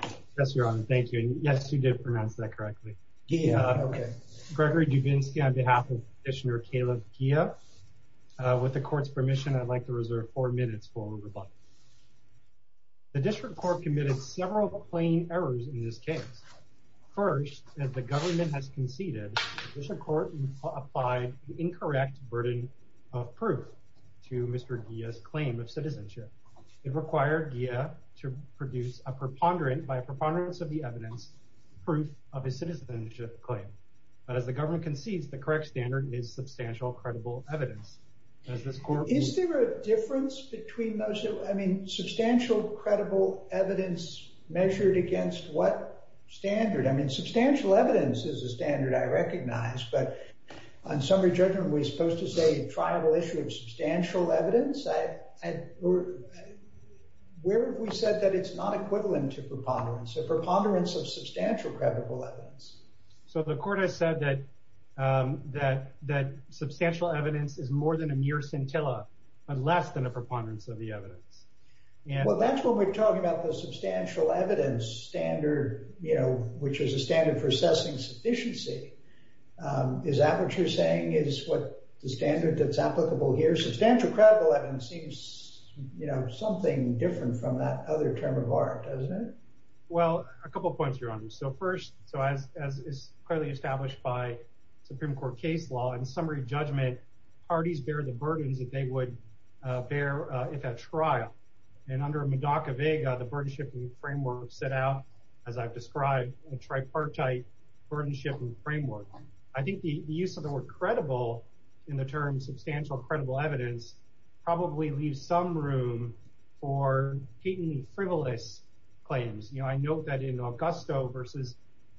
Gregory Duvinsky The District Court committed several plain errors in this case. First, as the government has conceded, the District Court applied the incorrect burden of proof to Mr. Giha's claim of citizenship. It required Giha to produce a preponderance of the evidence, proof of his citizenship claim. But as the government concedes, the correct standard is substantial credible evidence. Is there a difference between those two? I mean, substantial credible evidence measured against what standard? I mean, substantial evidence is a standard I recognize. But on summary judgment, we're supposed to say a triable issue of substantial evidence. Where have we said that it's not equivalent to preponderance? A preponderance of substantial credible evidence. So the court has said that substantial evidence is more than a mere scintilla, but less than a preponderance of the evidence. Well, that's what we're talking about, the substantial evidence standard, you know, which is a standard for assessing sufficiency. Is that what you're saying is what the standard that's applicable here? Substantial credible evidence seems, you know, something different from that other term of art, doesn't it? Well, a couple of points, Your Honor. So first, so as is clearly established by Supreme Court case law, in summary judgment, parties bear the burdens that they would bear if at trial. And under Madoka Vega, the burden-shipping framework set out, as I've described, a tripartite burden-shipping framework. I think the use of the word credible in the term substantial credible evidence probably leaves some room for patently frivolous claims. You know, I note that in Augusto v.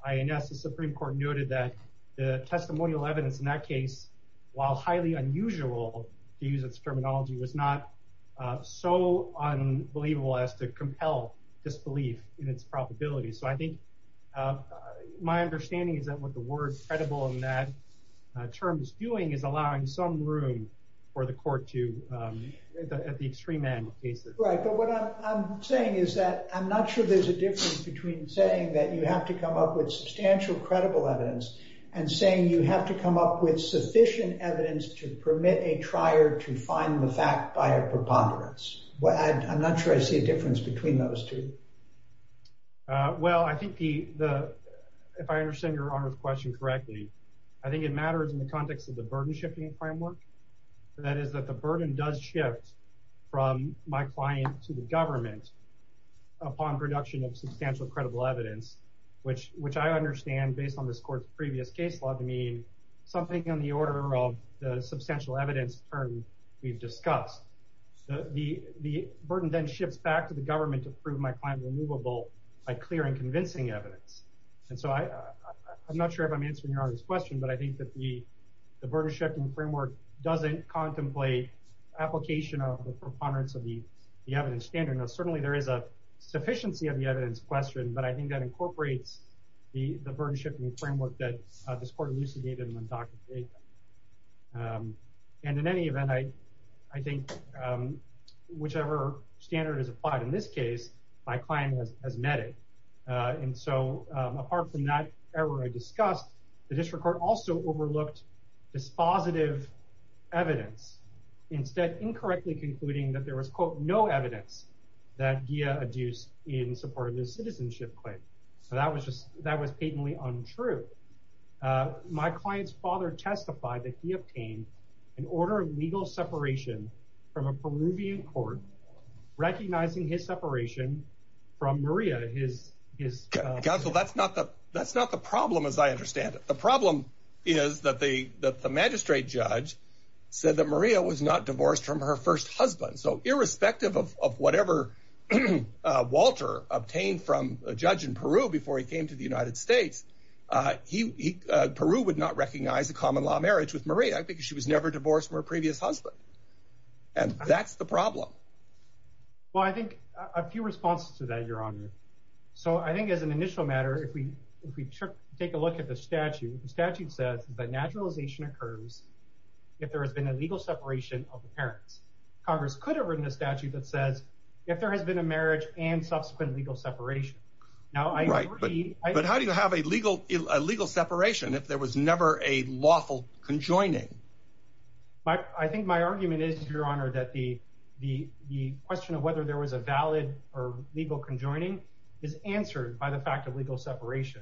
INS, the Supreme Court noted that the testimonial evidence in that case, while highly unusual to use its terminology, was not so unbelievable as to compel disbelief in its probability. So I think my understanding is that what the word credible in that term is doing is allowing some room for the court to, at the extreme end of cases. Right, but what I'm saying is that I'm not sure there's a difference between saying that you have to come up with substantial credible evidence and saying you have to come up with sufficient evidence to permit a trier to find the fact by a preponderance. I'm not sure I see a difference between those two. Well, I think if I understand Your Honor's question correctly, I think it matters in the context of the burden-shipping framework. That is that the burden does shift from my client to the government upon production of substantial credible evidence, which I understand, based on this court's previous case law, to mean something on the order of the substantial evidence term we've discussed. The burden then shifts back to the government to prove my client removable by clearing convincing evidence. And so I'm not sure if I'm answering Your Honor's question, but I think that the burden-shifting framework doesn't contemplate application of the preponderance of the evidence standard. Now, certainly there is a sufficiency of the evidence question, but I think that incorporates the burden-shifting framework that this court elucidated and then documented. And in any event, I think whichever standard is applied in this case, my client has met it. And so apart from that error I discussed, the district court also overlooked dispositive evidence, instead incorrectly concluding that there was, quote, no evidence that Gia adduced in support of this citizenship claim. So that was just that was patently untrue. My client's father testified that he obtained an order of legal separation from a Peruvian court, recognizing his separation from Maria, his- Counsel, that's not the problem as I understand it. The problem is that the magistrate judge said that Maria was not divorced from her first husband. So irrespective of whatever Walter obtained from a judge in Peru before he came to the United States, Peru would not recognize a common-law marriage with Maria because she was never divorced from her previous husband. And that's the problem. Well, I think a few responses to that, Your Honor. So I think as an initial matter, if we take a look at the statute, the statute says that naturalization occurs if there has been a legal separation of the parents. Congress could have written a statute that says if there has been a marriage and subsequent legal separation. But how do you have a legal separation if there was never a lawful conjoining? I think my argument is, Your Honor, that the question of whether there was a valid or legal conjoining is answered by the fact of legal separation.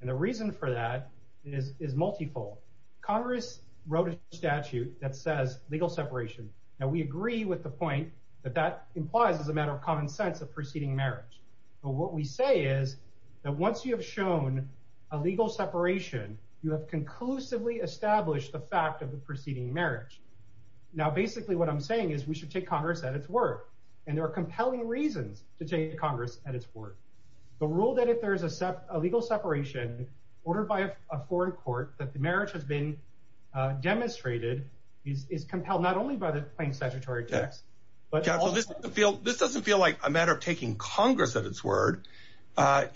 And the reason for that is multifold. Congress wrote a statute that says legal separation. Now, we agree with the point that that implies, as a matter of common sense, a preceding marriage. But what we say is that once you have shown a legal separation, you have conclusively established the fact of the preceding marriage. Now, basically what I'm saying is we should take Congress at its word. And there are compelling reasons to take Congress at its word. The rule that if there is a legal separation ordered by a foreign court that the marriage has been demonstrated is compelled not only by the plain statutory text. But this doesn't feel like a matter of taking Congress at its word.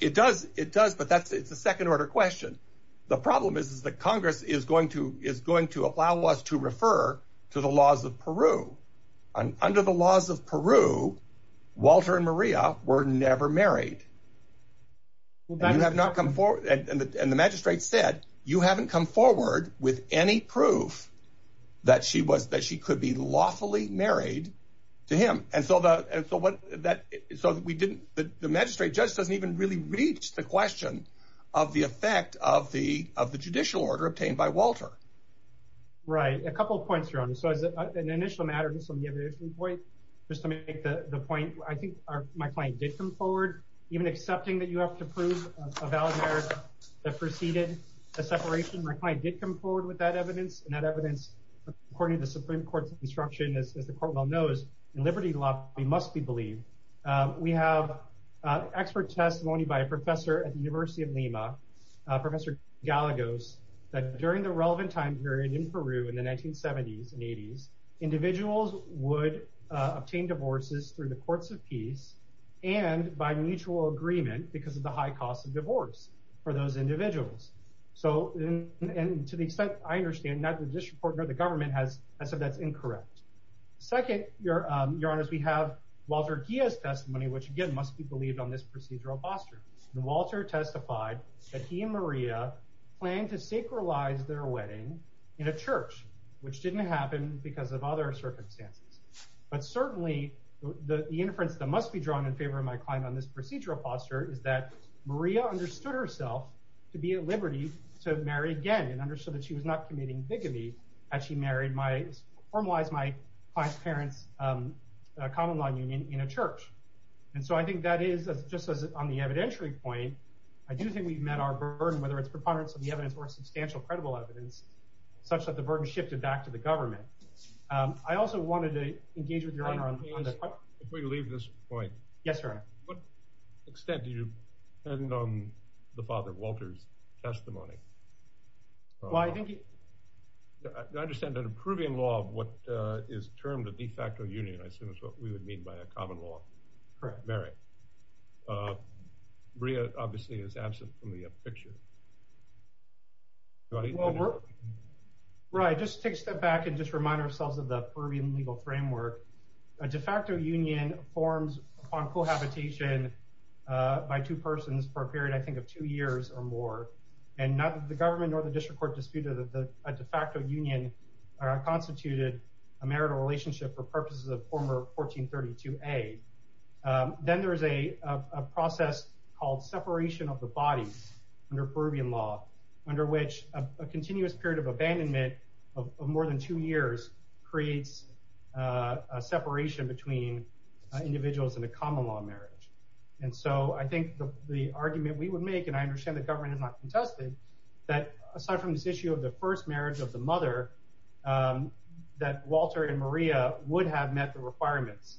It does. It does. But that's it's a second order question. The problem is, is that Congress is going to is going to allow us to refer to the laws of Peru. Under the laws of Peru, Walter and Maria were never married. You have not come forward. And the magistrate said you haven't come forward with any proof that she was that she could be lawfully married to him. And so the so what that so we didn't the magistrate judge doesn't even really reach the question of the effect of the of the judicial order obtained by Walter. Right. A couple of points. So as an initial matter, just on the point, just to make the point. I think my client did come forward, even accepting that you have to prove a valid marriage that preceded a separation. My client did come forward with that evidence and that evidence, according to the Supreme Court's instruction, as the court well knows, in liberty law, we must be believed. We have expert testimony by a professor at the University of Lima, Professor Gallegos, that during the relevant time period in Peru in the 1970s and 80s, individuals would obtain divorces through the courts of peace and by mutual agreement because of the high cost of divorce for those individuals. So and to the extent I understand that the district court or the government has said that's incorrect. Second, your your honors, we have Walter Diaz testimony, which, again, must be believed on this procedural posture. And Walter testified that he and Maria planned to sacralize their wedding in a church, which didn't happen because of other circumstances. But certainly the inference that must be drawn in favor of my client on this procedural posture is that Maria understood herself to be at liberty to marry again and understood that she was not committing bigamy. As she married my, formalized my client's parents' common law union in a church. And so I think that is, just as on the evidentiary point, I do think we've met our burden, whether it's preponderance of the evidence or substantial credible evidence, such that the burden shifted back to the government. I also wanted to engage with your honor on that. If we leave this point. Yes, sir. What extent do you depend on the Father Walter's testimony? Well, I think I understand that approving law of what is termed a de facto union, I assume is what we would mean by a common law. Correct. Very. Bria, obviously, is absent from the picture. Right. Just take a step back and just remind ourselves of the Peruvian legal framework. A de facto union forms on cohabitation by two persons for a period, I think, of two years or more. And neither the government nor the district court disputed that the de facto union constituted a marital relationship for purposes of former 1432A. Then there is a process called separation of the bodies under Peruvian law, under which a continuous period of abandonment of more than two years creates a separation between individuals in a common law marriage. And so I think the argument we would make, and I understand the government is not contested, that aside from this issue of the first marriage of the mother, that Walter and Maria would have met the requirements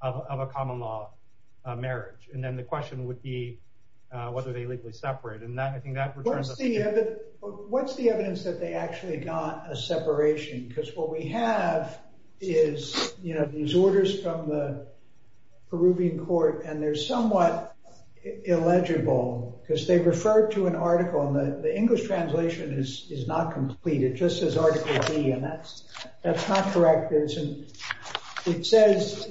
of a common law marriage. And then the question would be whether they legally separate. What's the evidence that they actually got a separation? Because what we have is, you know, these orders from the Peruvian court and they're somewhat illegible because they refer to an article. And the English translation is not complete. It just says Article D, and that's not correct. It says,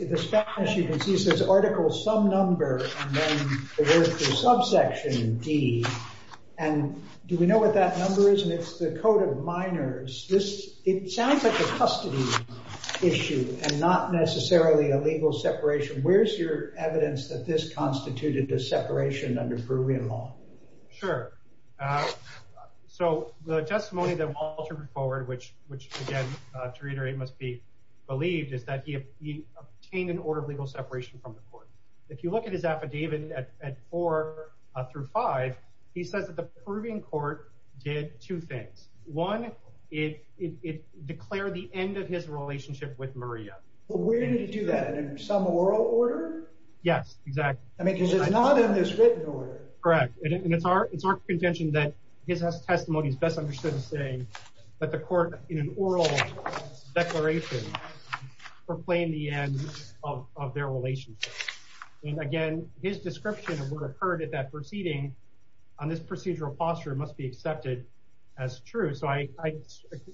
as you can see, it says Article Some Number and then the word for subsection, D. And do we know what that number is? And it's the Code of Minors. It sounds like a custody issue and not necessarily a legal separation. Where's your evidence that this constituted a separation under Peruvian law? Sure. So the testimony that Walter put forward, which, again, to reiterate, must be believed, is that he obtained an order of legal separation from the court. If you look at his affidavit at 4 through 5, he says that the Peruvian court did two things. One, it declared the end of his relationship with Maria. Well, where did he do that? In some oral order? Yes, exactly. I mean, because it's not in this written order. Correct. And it's our contention that his testimony is best understood as saying that the court, in an oral declaration, proclaimed the end of their relationship. And, again, his description of what occurred at that proceeding on this procedural posture must be accepted as true. So I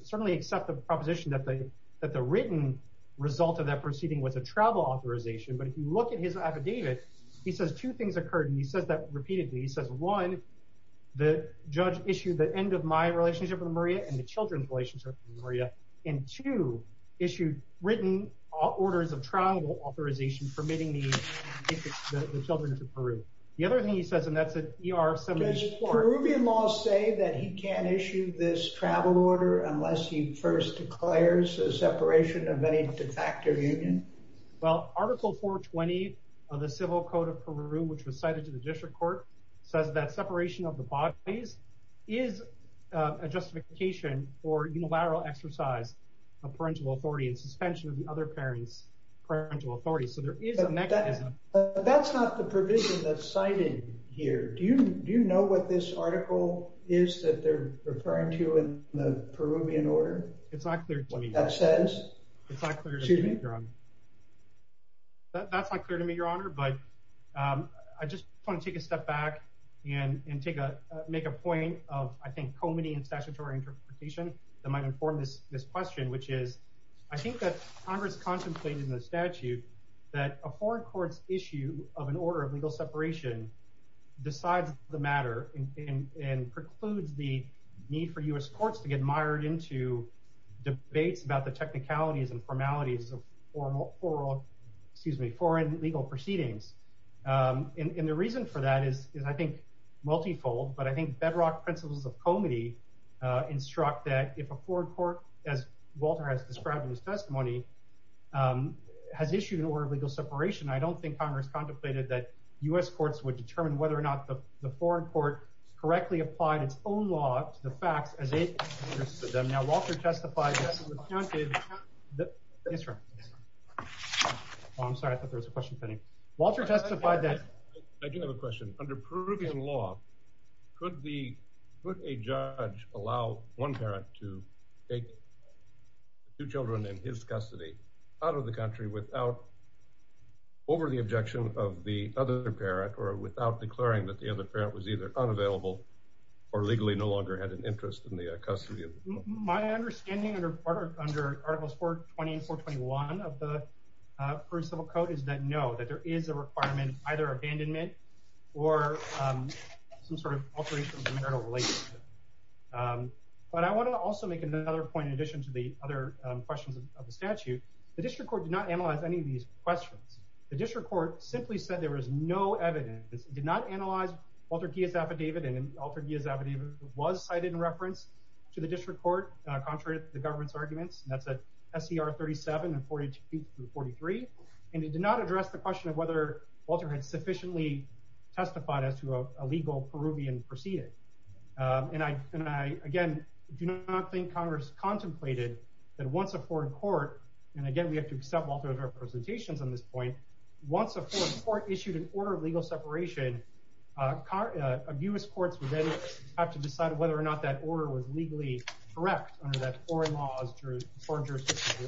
certainly accept the proposition that the written result of that proceeding was a travel authorization. But if you look at his affidavit, he says two things occurred, and he says that repeatedly. He says, one, the judge issued the end of my relationship with Maria and the children's relationship with Maria. And, two, issued written orders of travel authorization permitting the children to Peru. The other thing he says, and that's at ER 74. Does Peruvian law say that he can't issue this travel order unless he first declares a separation of any de facto union? Well, Article 420 of the Civil Code of Peru, which was cited to the district court, says that separation of the bodies is a justification for unilateral exercise of parental authority and suspension of the other parent's parental authority. So there is a mechanism. But that's not the provision that's cited here. Do you know what this article is that they're referring to in the Peruvian order? It's not clear to me. What that says? It's not clear to me, Your Honor. That's not clear to me, Your Honor. But I just want to take a step back and make a point of, I think, comedy and statutory interpretation that might inform this question, which is, I think that Congress contemplated in the statute that a foreign court's issue of an order of legal separation decides the matter and precludes the need for U.S. courts to get mired into debates about the technicalities and formalities of foreign legal proceedings. And the reason for that is, I think, multifold, but I think bedrock principles of comedy instruct that if a foreign court, as Walter has described in his testimony, has issued an order of legal separation, I don't think Congress contemplated that U.S. courts would determine whether or not the foreign court correctly applied its own law to the facts as it interested them. Now, Walter testified that it was counted. Yes, sir. Oh, I'm sorry. I thought there was a question pending. I do have a question. Under Peruvian law, could a judge allow one parent to take two children in his custody out of the country over the objection of the other parent or without declaring that the other parent was either unavailable or legally no longer had an interest in the custody of the child? My understanding under Articles 420 and 421 of the Peruvian Civil Code is that no, that there is a requirement of either abandonment or some sort of alteration of the marital relationship. But I want to also make another point in addition to the other questions of the statute. The district court did not analyze any of these questions. The district court simply said there was no evidence. It did not analyze Walter Diaz's affidavit, and Walter Diaz's affidavit was cited in reference to the district court contrary to the government's arguments. And that's at SCR 37 and 42 through 43. And it did not address the question of whether Walter had sufficiently testified as to a legal Peruvian proceeding. And I, again, do not think Congress contemplated that once a foreign court—and again, we have to accept Walter's representations on this point—once a foreign court issued an order of legal separation, abuse courts would then have to decide whether or not that order was legally correct under that foreign law's jurisdiction.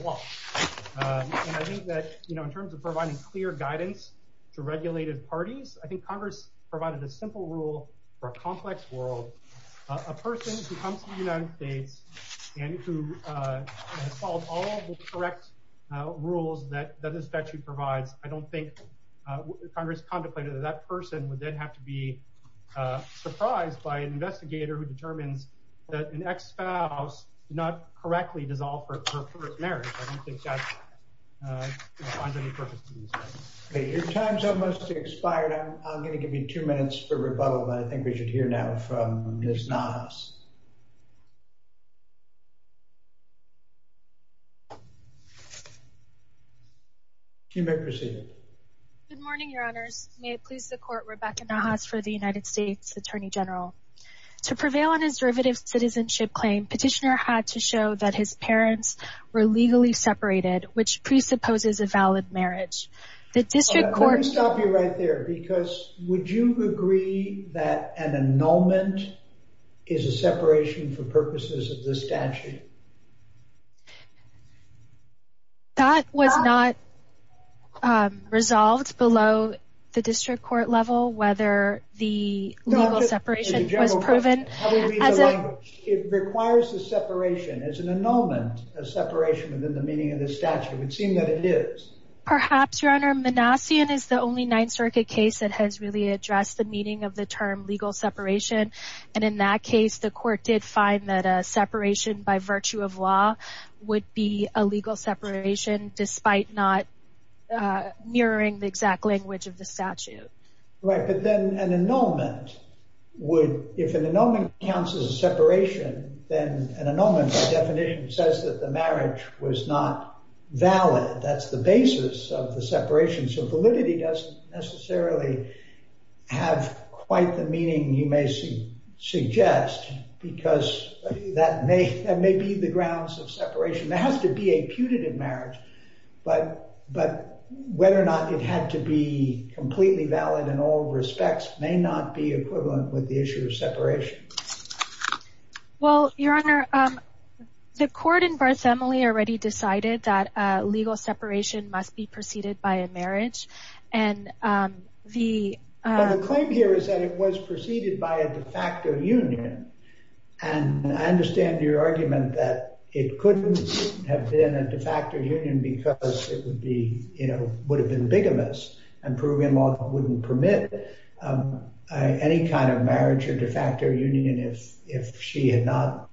And I think that, you know, in terms of providing clear guidance to regulated parties, I think Congress provided a simple rule for a complex world. A person who comes to the United States and who has followed all of the correct rules that the statute provides, I don't think Congress contemplated that that person would then have to be surprised by an investigator who determines that an ex-spouse did not correctly dissolve her first marriage. I don't think that defines any purpose in this case. Your time's almost expired. I'm going to give you two minutes for rebuttal, but I think we should hear now from Ms. Nahas. You may proceed. Good morning, Your Honors. May it please the Court, Rebecca Nahas for the United States Attorney General. To prevail on his derivative citizenship claim, Petitioner had to show that his parents were legally separated, which presupposes a valid marriage. The District Court— Let me stop you right there, because would you agree that an annulment is a separation for purposes of this statute? That was not resolved below the District Court level, whether the legal separation was proven. It requires a separation. It's an annulment, a separation within the meaning of the statute. It would seem that it is. Perhaps, Your Honor. Manassian is the only Ninth Circuit case that has really addressed the meaning of the term legal separation. And in that case, the Court did find that a separation by virtue of law would be a legal separation, despite not mirroring the exact language of the statute. Right, but then an annulment would—if an annulment counts as a separation, then an annulment by definition says that the marriage was not valid. That's the basis of the separation, so validity doesn't necessarily have quite the meaning you may suggest, because that may be the grounds of separation. There has to be a putative marriage, but whether or not it had to be completely valid in all respects may not be equivalent with the issue of separation. Well, Your Honor, the Court in Barthélemy already decided that legal separation must be preceded by a marriage, and the— But the claim here is that it was preceded by a de facto union. And I understand your argument that it couldn't have been a de facto union because it would be—you know, would have been bigamous, and Peruvian law wouldn't permit any kind of marriage or de facto union if she had not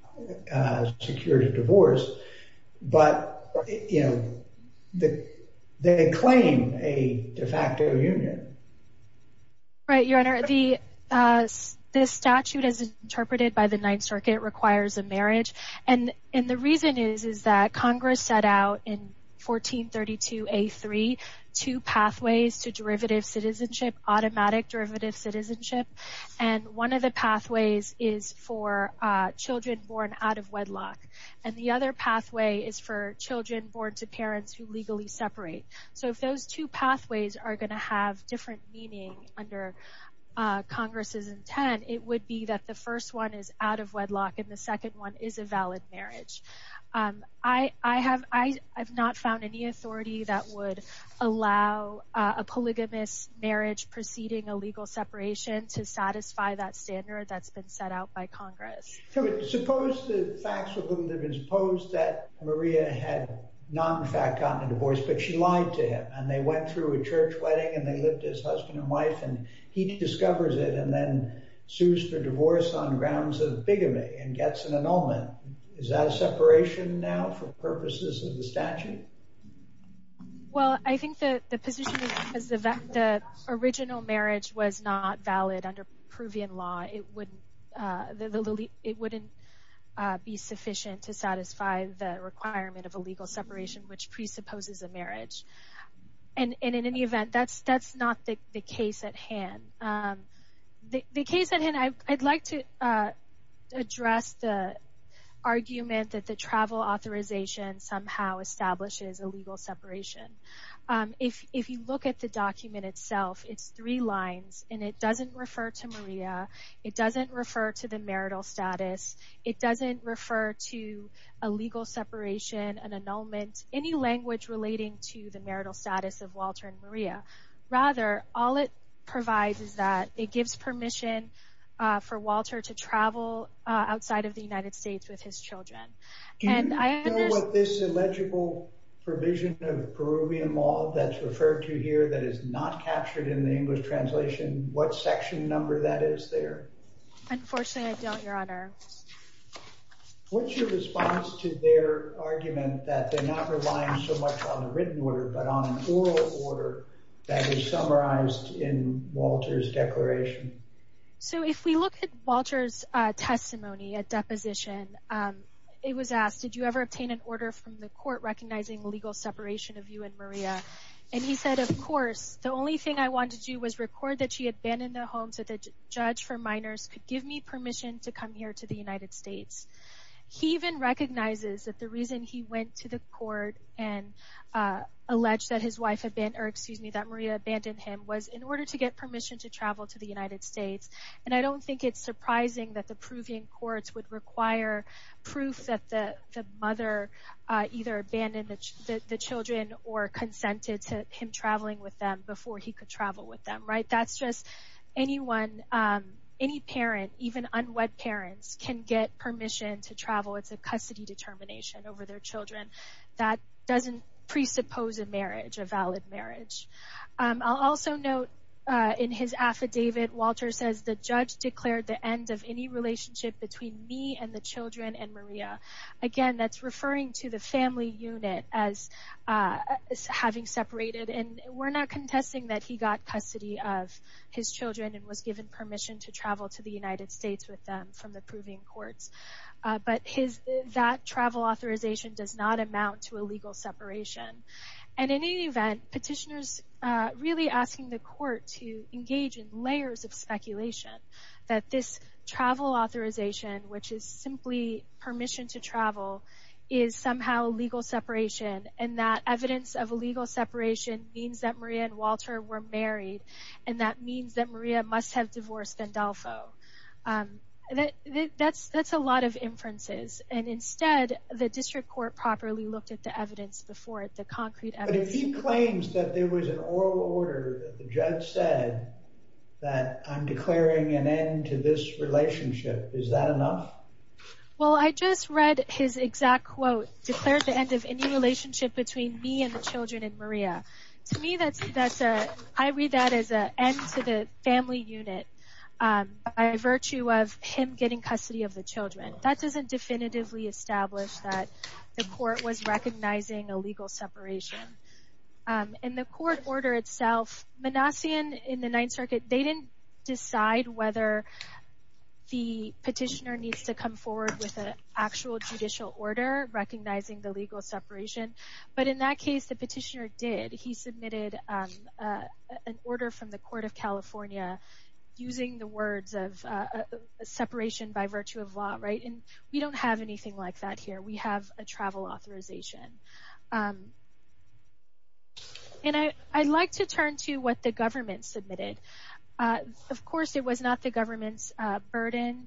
secured a divorce. But, you know, they claim a de facto union. Right, Your Honor. This statute, as interpreted by the Ninth Circuit, requires a marriage. And the reason is that Congress set out in 1432a.3 two pathways to derivative citizenship, automatic derivative citizenship. And one of the pathways is for children born out of wedlock, and the other pathway is for children born to parents who legally separate. So if those two pathways are going to have different meaning under Congress's intent, it would be that the first one is out of wedlock and the second one is a valid marriage. I have not found any authority that would allow a polygamous marriage preceding a legal separation to satisfy that standard that's been set out by Congress. So suppose the facts with whom they've been—suppose that Maria had not, in fact, gotten a divorce, but she lied to him, and they went through a church wedding and they lived as husband and wife, and he discovers it and then sues for divorce on grounds of bigamy and gets an annulment. Is that a separation now for purposes of the statute? Well, I think the position is that the original marriage was not valid under Peruvian law. It wouldn't be sufficient to satisfy the requirement of a legal separation which presupposes a marriage. And in any event, that's not the case at hand. The case at hand—I'd like to address the argument that the travel authorization somehow establishes a legal separation. If you look at the document itself, it's three lines, and it doesn't refer to Maria. It doesn't refer to the marital status. It doesn't refer to a legal separation, an annulment, any language relating to the marital status of Walter and Maria. Rather, all it provides is that it gives permission for Walter to travel outside of the United States with his children. Do you know what this illegible provision of Peruvian law that's referred to here that is not captured in the English translation, what section number that is there? Unfortunately, I don't, Your Honor. What's your response to their argument that they're not relying so much on a written order but on an oral order that is summarized in Walter's declaration? So if we look at Walter's testimony at deposition, it was asked, did you ever obtain an order from the court recognizing legal separation of you and Maria? And he said, of course. The only thing I wanted to do was record that she had abandoned the home so the judge for minors could give me permission to come here to the United States. He even recognizes that the reason he went to the court and alleged that his wife had been, or excuse me, that Maria abandoned him, was in order to get permission to travel to the United States. And I don't think it's surprising that the Peruvian courts would require proof that the mother either abandoned the children or consented to him traveling with them before he could travel with them. That's just anyone, any parent, even unwed parents, can get permission to travel. It's a custody determination over their children. That doesn't presuppose a marriage, a valid marriage. I'll also note in his affidavit, Walter says, the judge declared the end of any relationship between me and the children and Maria. Again, that's referring to the family unit as having separated. And we're not contesting that he got custody of his children and was given permission to travel to the United States with them from the Peruvian courts. But that travel authorization does not amount to a legal separation. And in any event, petitioners are really asking the court to engage in layers of speculation that this travel authorization, which is simply permission to travel, is somehow a legal separation, and that evidence of a legal separation means that Maria and Walter were married, and that means that Maria must have divorced Gandolfo. That's a lot of inferences. And instead, the district court properly looked at the evidence before it, the concrete evidence. But if he claims that there was an oral order that the judge said that I'm declaring an end to this relationship, is that enough? Well, I just read his exact quote, declared the end of any relationship between me and the children and Maria. To me, I read that as an end to the family unit. By virtue of him getting custody of the children. That doesn't definitively establish that the court was recognizing a legal separation. In the court order itself, Manassian in the Ninth Circuit, they didn't decide whether the petitioner needs to come forward with an actual judicial order recognizing the legal separation. But in that case, the petitioner did. He submitted an order from the Court of California using the words of separation by virtue of law. We don't have anything like that here. We have a travel authorization. I'd like to turn to what the government submitted. Of course, it was not the government's burden.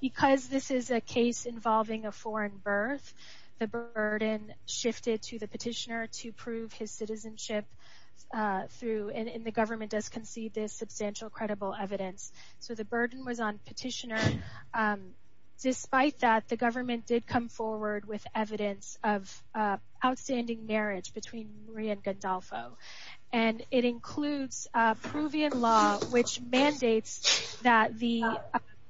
Because this is a case involving a foreign birth, the burden shifted to the petitioner to prove his citizenship. And the government does concede this substantial credible evidence. So the burden was on petitioner. Despite that, the government did come forward with evidence of outstanding marriage between Maria and Gandolfo. And it includes a pruvian law which mandates that the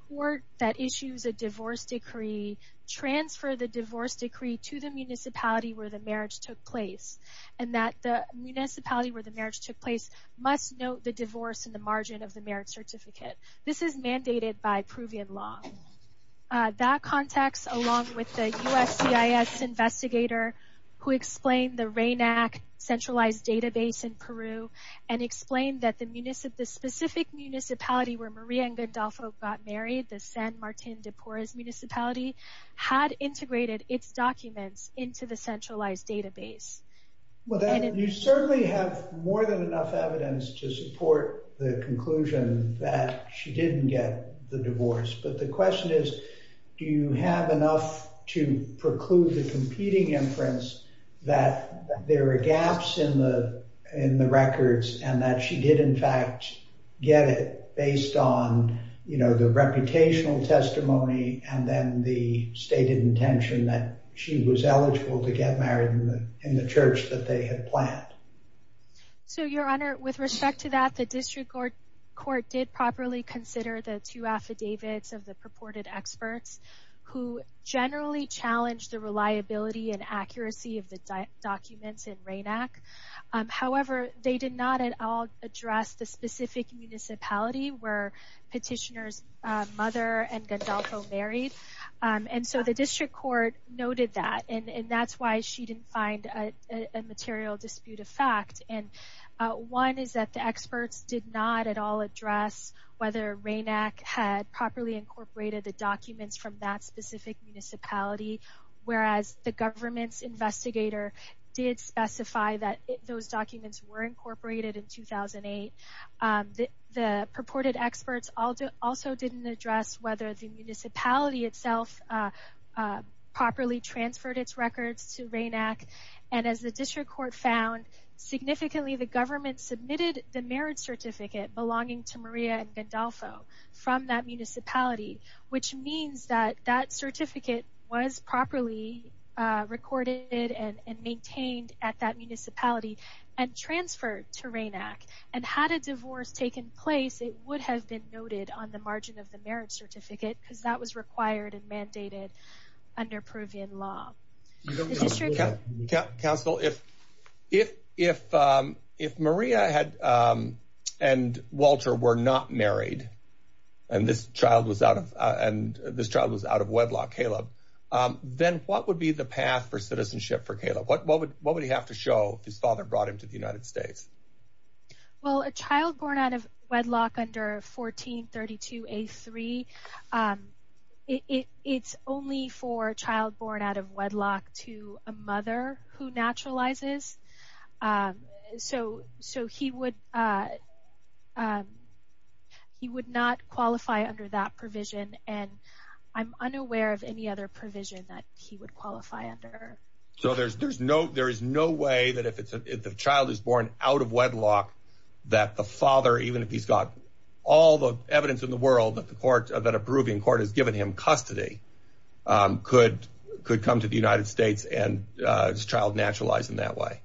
court that issues a divorce decree transfer the divorce decree to the municipality where the marriage took place. And that the municipality where the marriage took place must note the divorce in the margin of the marriage certificate. This is mandated by pruvian law. That context, along with the USCIS investigator who explained the RAINAC centralized database in Peru, and explained that the specific municipality where Maria and Gandolfo got married, the San Martin de Porres municipality, had integrated its documents into the centralized database. You certainly have more than enough evidence to support the conclusion that she didn't get the divorce. But the question is, do you have enough to preclude the competing inference that there are gaps in the records, and that she did in fact get it based on the reputational testimony, and then the stated intention that she was eligible to get married in the church that they had planned. So your honor, with respect to that, the district court did properly consider the two affidavits of the purported experts, who generally challenged the reliability and accuracy of the documents in RAINAC. However, they did not at all address the specific municipality where petitioner's mother and Gandolfo married. So the district court noted that, and that's why she didn't find a material dispute of fact. One is that the experts did not at all address whether RAINAC had properly incorporated the documents from that specific municipality, whereas the government's investigator did specify that those documents were incorporated in 2008. The purported experts also didn't address whether the municipality itself properly transferred its records to RAINAC. And as the district court found, significantly the government submitted the marriage certificate belonging to Maria and Gandolfo from that municipality, which means that that certificate was properly recorded and maintained at that municipality and transferred to RAINAC. And had a divorce taken place, it would have been noted on the margin of the marriage certificate, because that was required and mandated under Peruvian law. Counsel, if Maria and Walter were not married, and this child was out of wedlock, Caleb, then what would be the path for citizenship for Caleb? What would he have to show if his father brought him to the United States? Well, a child born out of wedlock under 1432A3, it's only for a child born out of wedlock to a mother who naturalizes. So he would not qualify under that provision, and I'm unaware of any other provision that he would qualify under. So there is no way that if the child is born out of wedlock, that the father, even if he's got all the evidence in the world that a Peruvian court has given him custody, could come to the United States and his child naturalize in that way?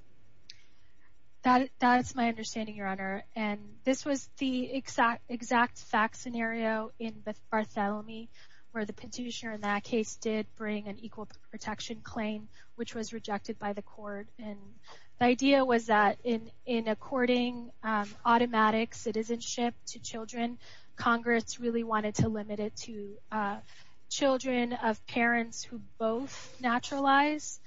That is my understanding, Your Honor. And this was the exact fact scenario in Bartholomew, where the petitioner in that case did bring an equal protection claim, which was rejected by the court. And the idea was that in according automatic citizenship to children, Congress really wanted to limit it to children of parents who both naturalize,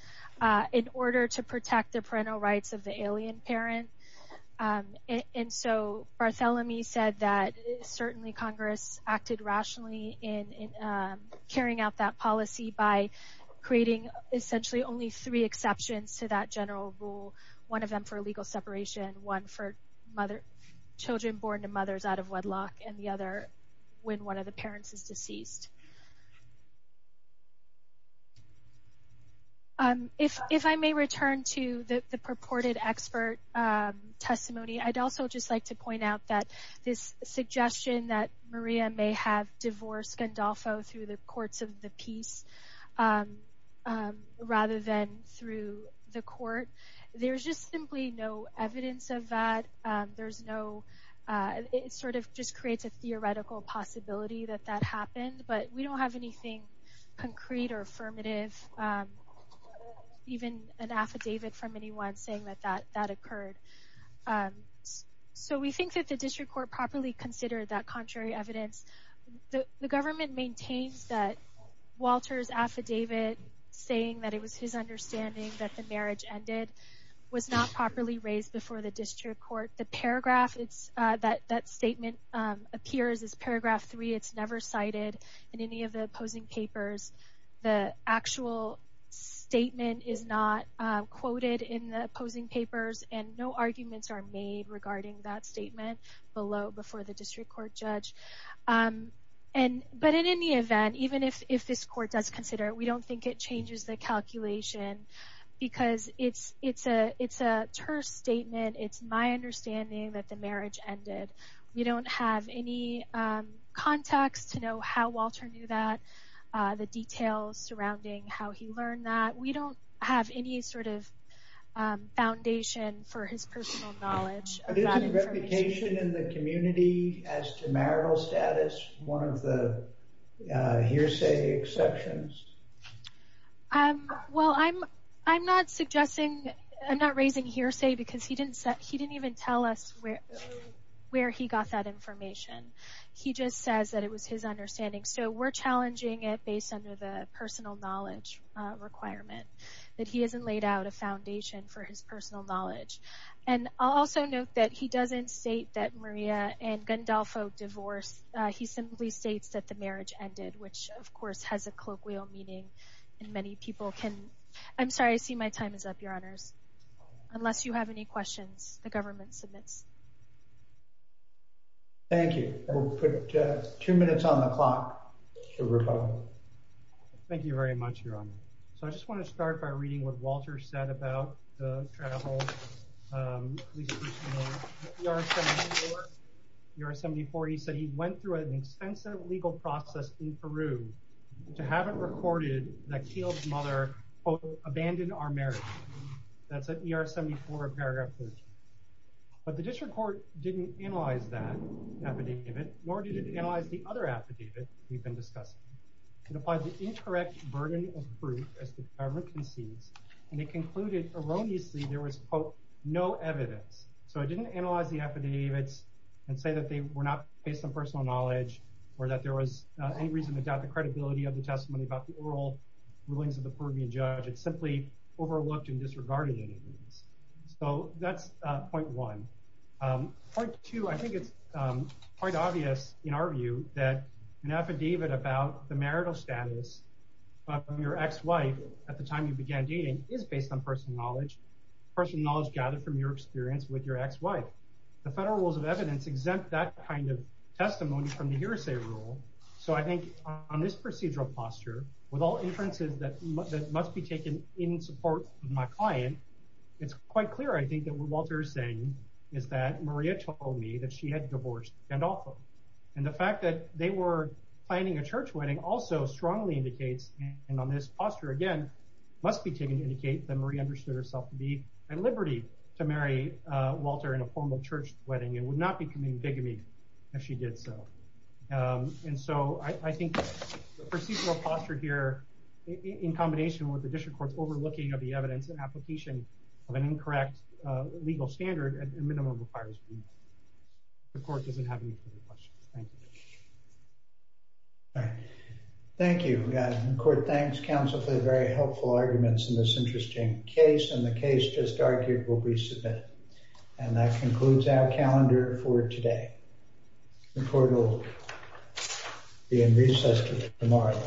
in order to protect the parental rights of the alien parent. And so Bartholomew said that certainly Congress acted rationally in carrying out that policy by creating essentially only three exceptions to that general rule, one of them for legal separation, one for children born to mothers out of wedlock, and the other when one of the parents is deceased. If I may return to the purported expert testimony, I'd also just like to point out that this suggestion that Maria may have divorced Gandolfo through the courts of the peace, rather than through the court, there's just simply no evidence of that. It sort of just creates a theoretical possibility that that happened, but we don't have anything concrete or affirmative, even an affidavit from anyone saying that that occurred. So we think that the district court properly considered that contrary evidence. The government maintains that Walter's affidavit saying that it was his understanding that the marriage ended was not properly raised before the district court. That statement appears as paragraph three. It's never cited in any of the opposing papers. The actual statement is not quoted in the opposing papers, and no arguments are made regarding that statement below before the district court judge. But in any event, even if this court does consider it, we don't think it changes the calculation because it's a terse statement. It's my understanding that the marriage ended. We don't have any context to know how Walter knew that, the details surrounding how he learned that. We don't have any sort of foundation for his personal knowledge of that information. Any indication in the community as to marital status, one of the hearsay exceptions? Well, I'm not raising hearsay because he didn't even tell us where he got that information. He just says that it was his understanding, so we're challenging it based on the personal knowledge requirement, that he hasn't laid out a foundation for his personal knowledge. And I'll also note that he doesn't state that Maria and Gandolfo divorced. He simply states that the marriage ended, which, of course, has a colloquial meaning. And many people can. I'm sorry. I see my time is up, Your Honors. Unless you have any questions, the government submits. Thank you. We'll put two minutes on the clock. Thank you very much, Your Honor. So I just want to start by reading what Walter said about the travel. He said he went through an extensive legal process in Peru to have it recorded that Keel's mother, quote, abandoned our marriage. That's at ER 74, paragraph 13. But the district court didn't analyze that affidavit, nor did it analyze the other affidavit we've been discussing. It applied the incorrect burden of proof, as the government concedes, and it concluded erroneously there was, quote, no evidence. So it didn't analyze the affidavits and say that they were not based on personal knowledge or that there was any reason to doubt the credibility of the testimony about the oral rulings of the Peruvian judge. It simply overlooked and disregarded any evidence. So that's point one. Point two, I think it's quite obvious in our view that an affidavit about the marital status of your ex-wife at the time you began dating is based on personal knowledge, personal knowledge gathered from your experience with your ex-wife. The federal rules of evidence exempt that kind of testimony from the hearsay rule. So I think on this procedural posture, with all inferences that must be taken in support of my client, it's quite clear, I think, that what Walter is saying is that Maria told me that she had divorced Gandolfo. And the fact that they were planning a church wedding also strongly indicates, and on this posture again, must be taken to indicate that Maria understood herself to be at liberty to marry Walter in a formal church wedding and would not be coming bigamy if she did so. And so I think the procedural posture here, in combination with the district court's overlooking of the evidence and application of an incorrect legal standard, a minimum requires remand. The court doesn't have any further questions. Thank you. Thank you. The court thanks counsel for the very helpful arguments in this interesting case, and the case just argued will be submitted. And that concludes our calendar for today. The court will be in recess tomorrow.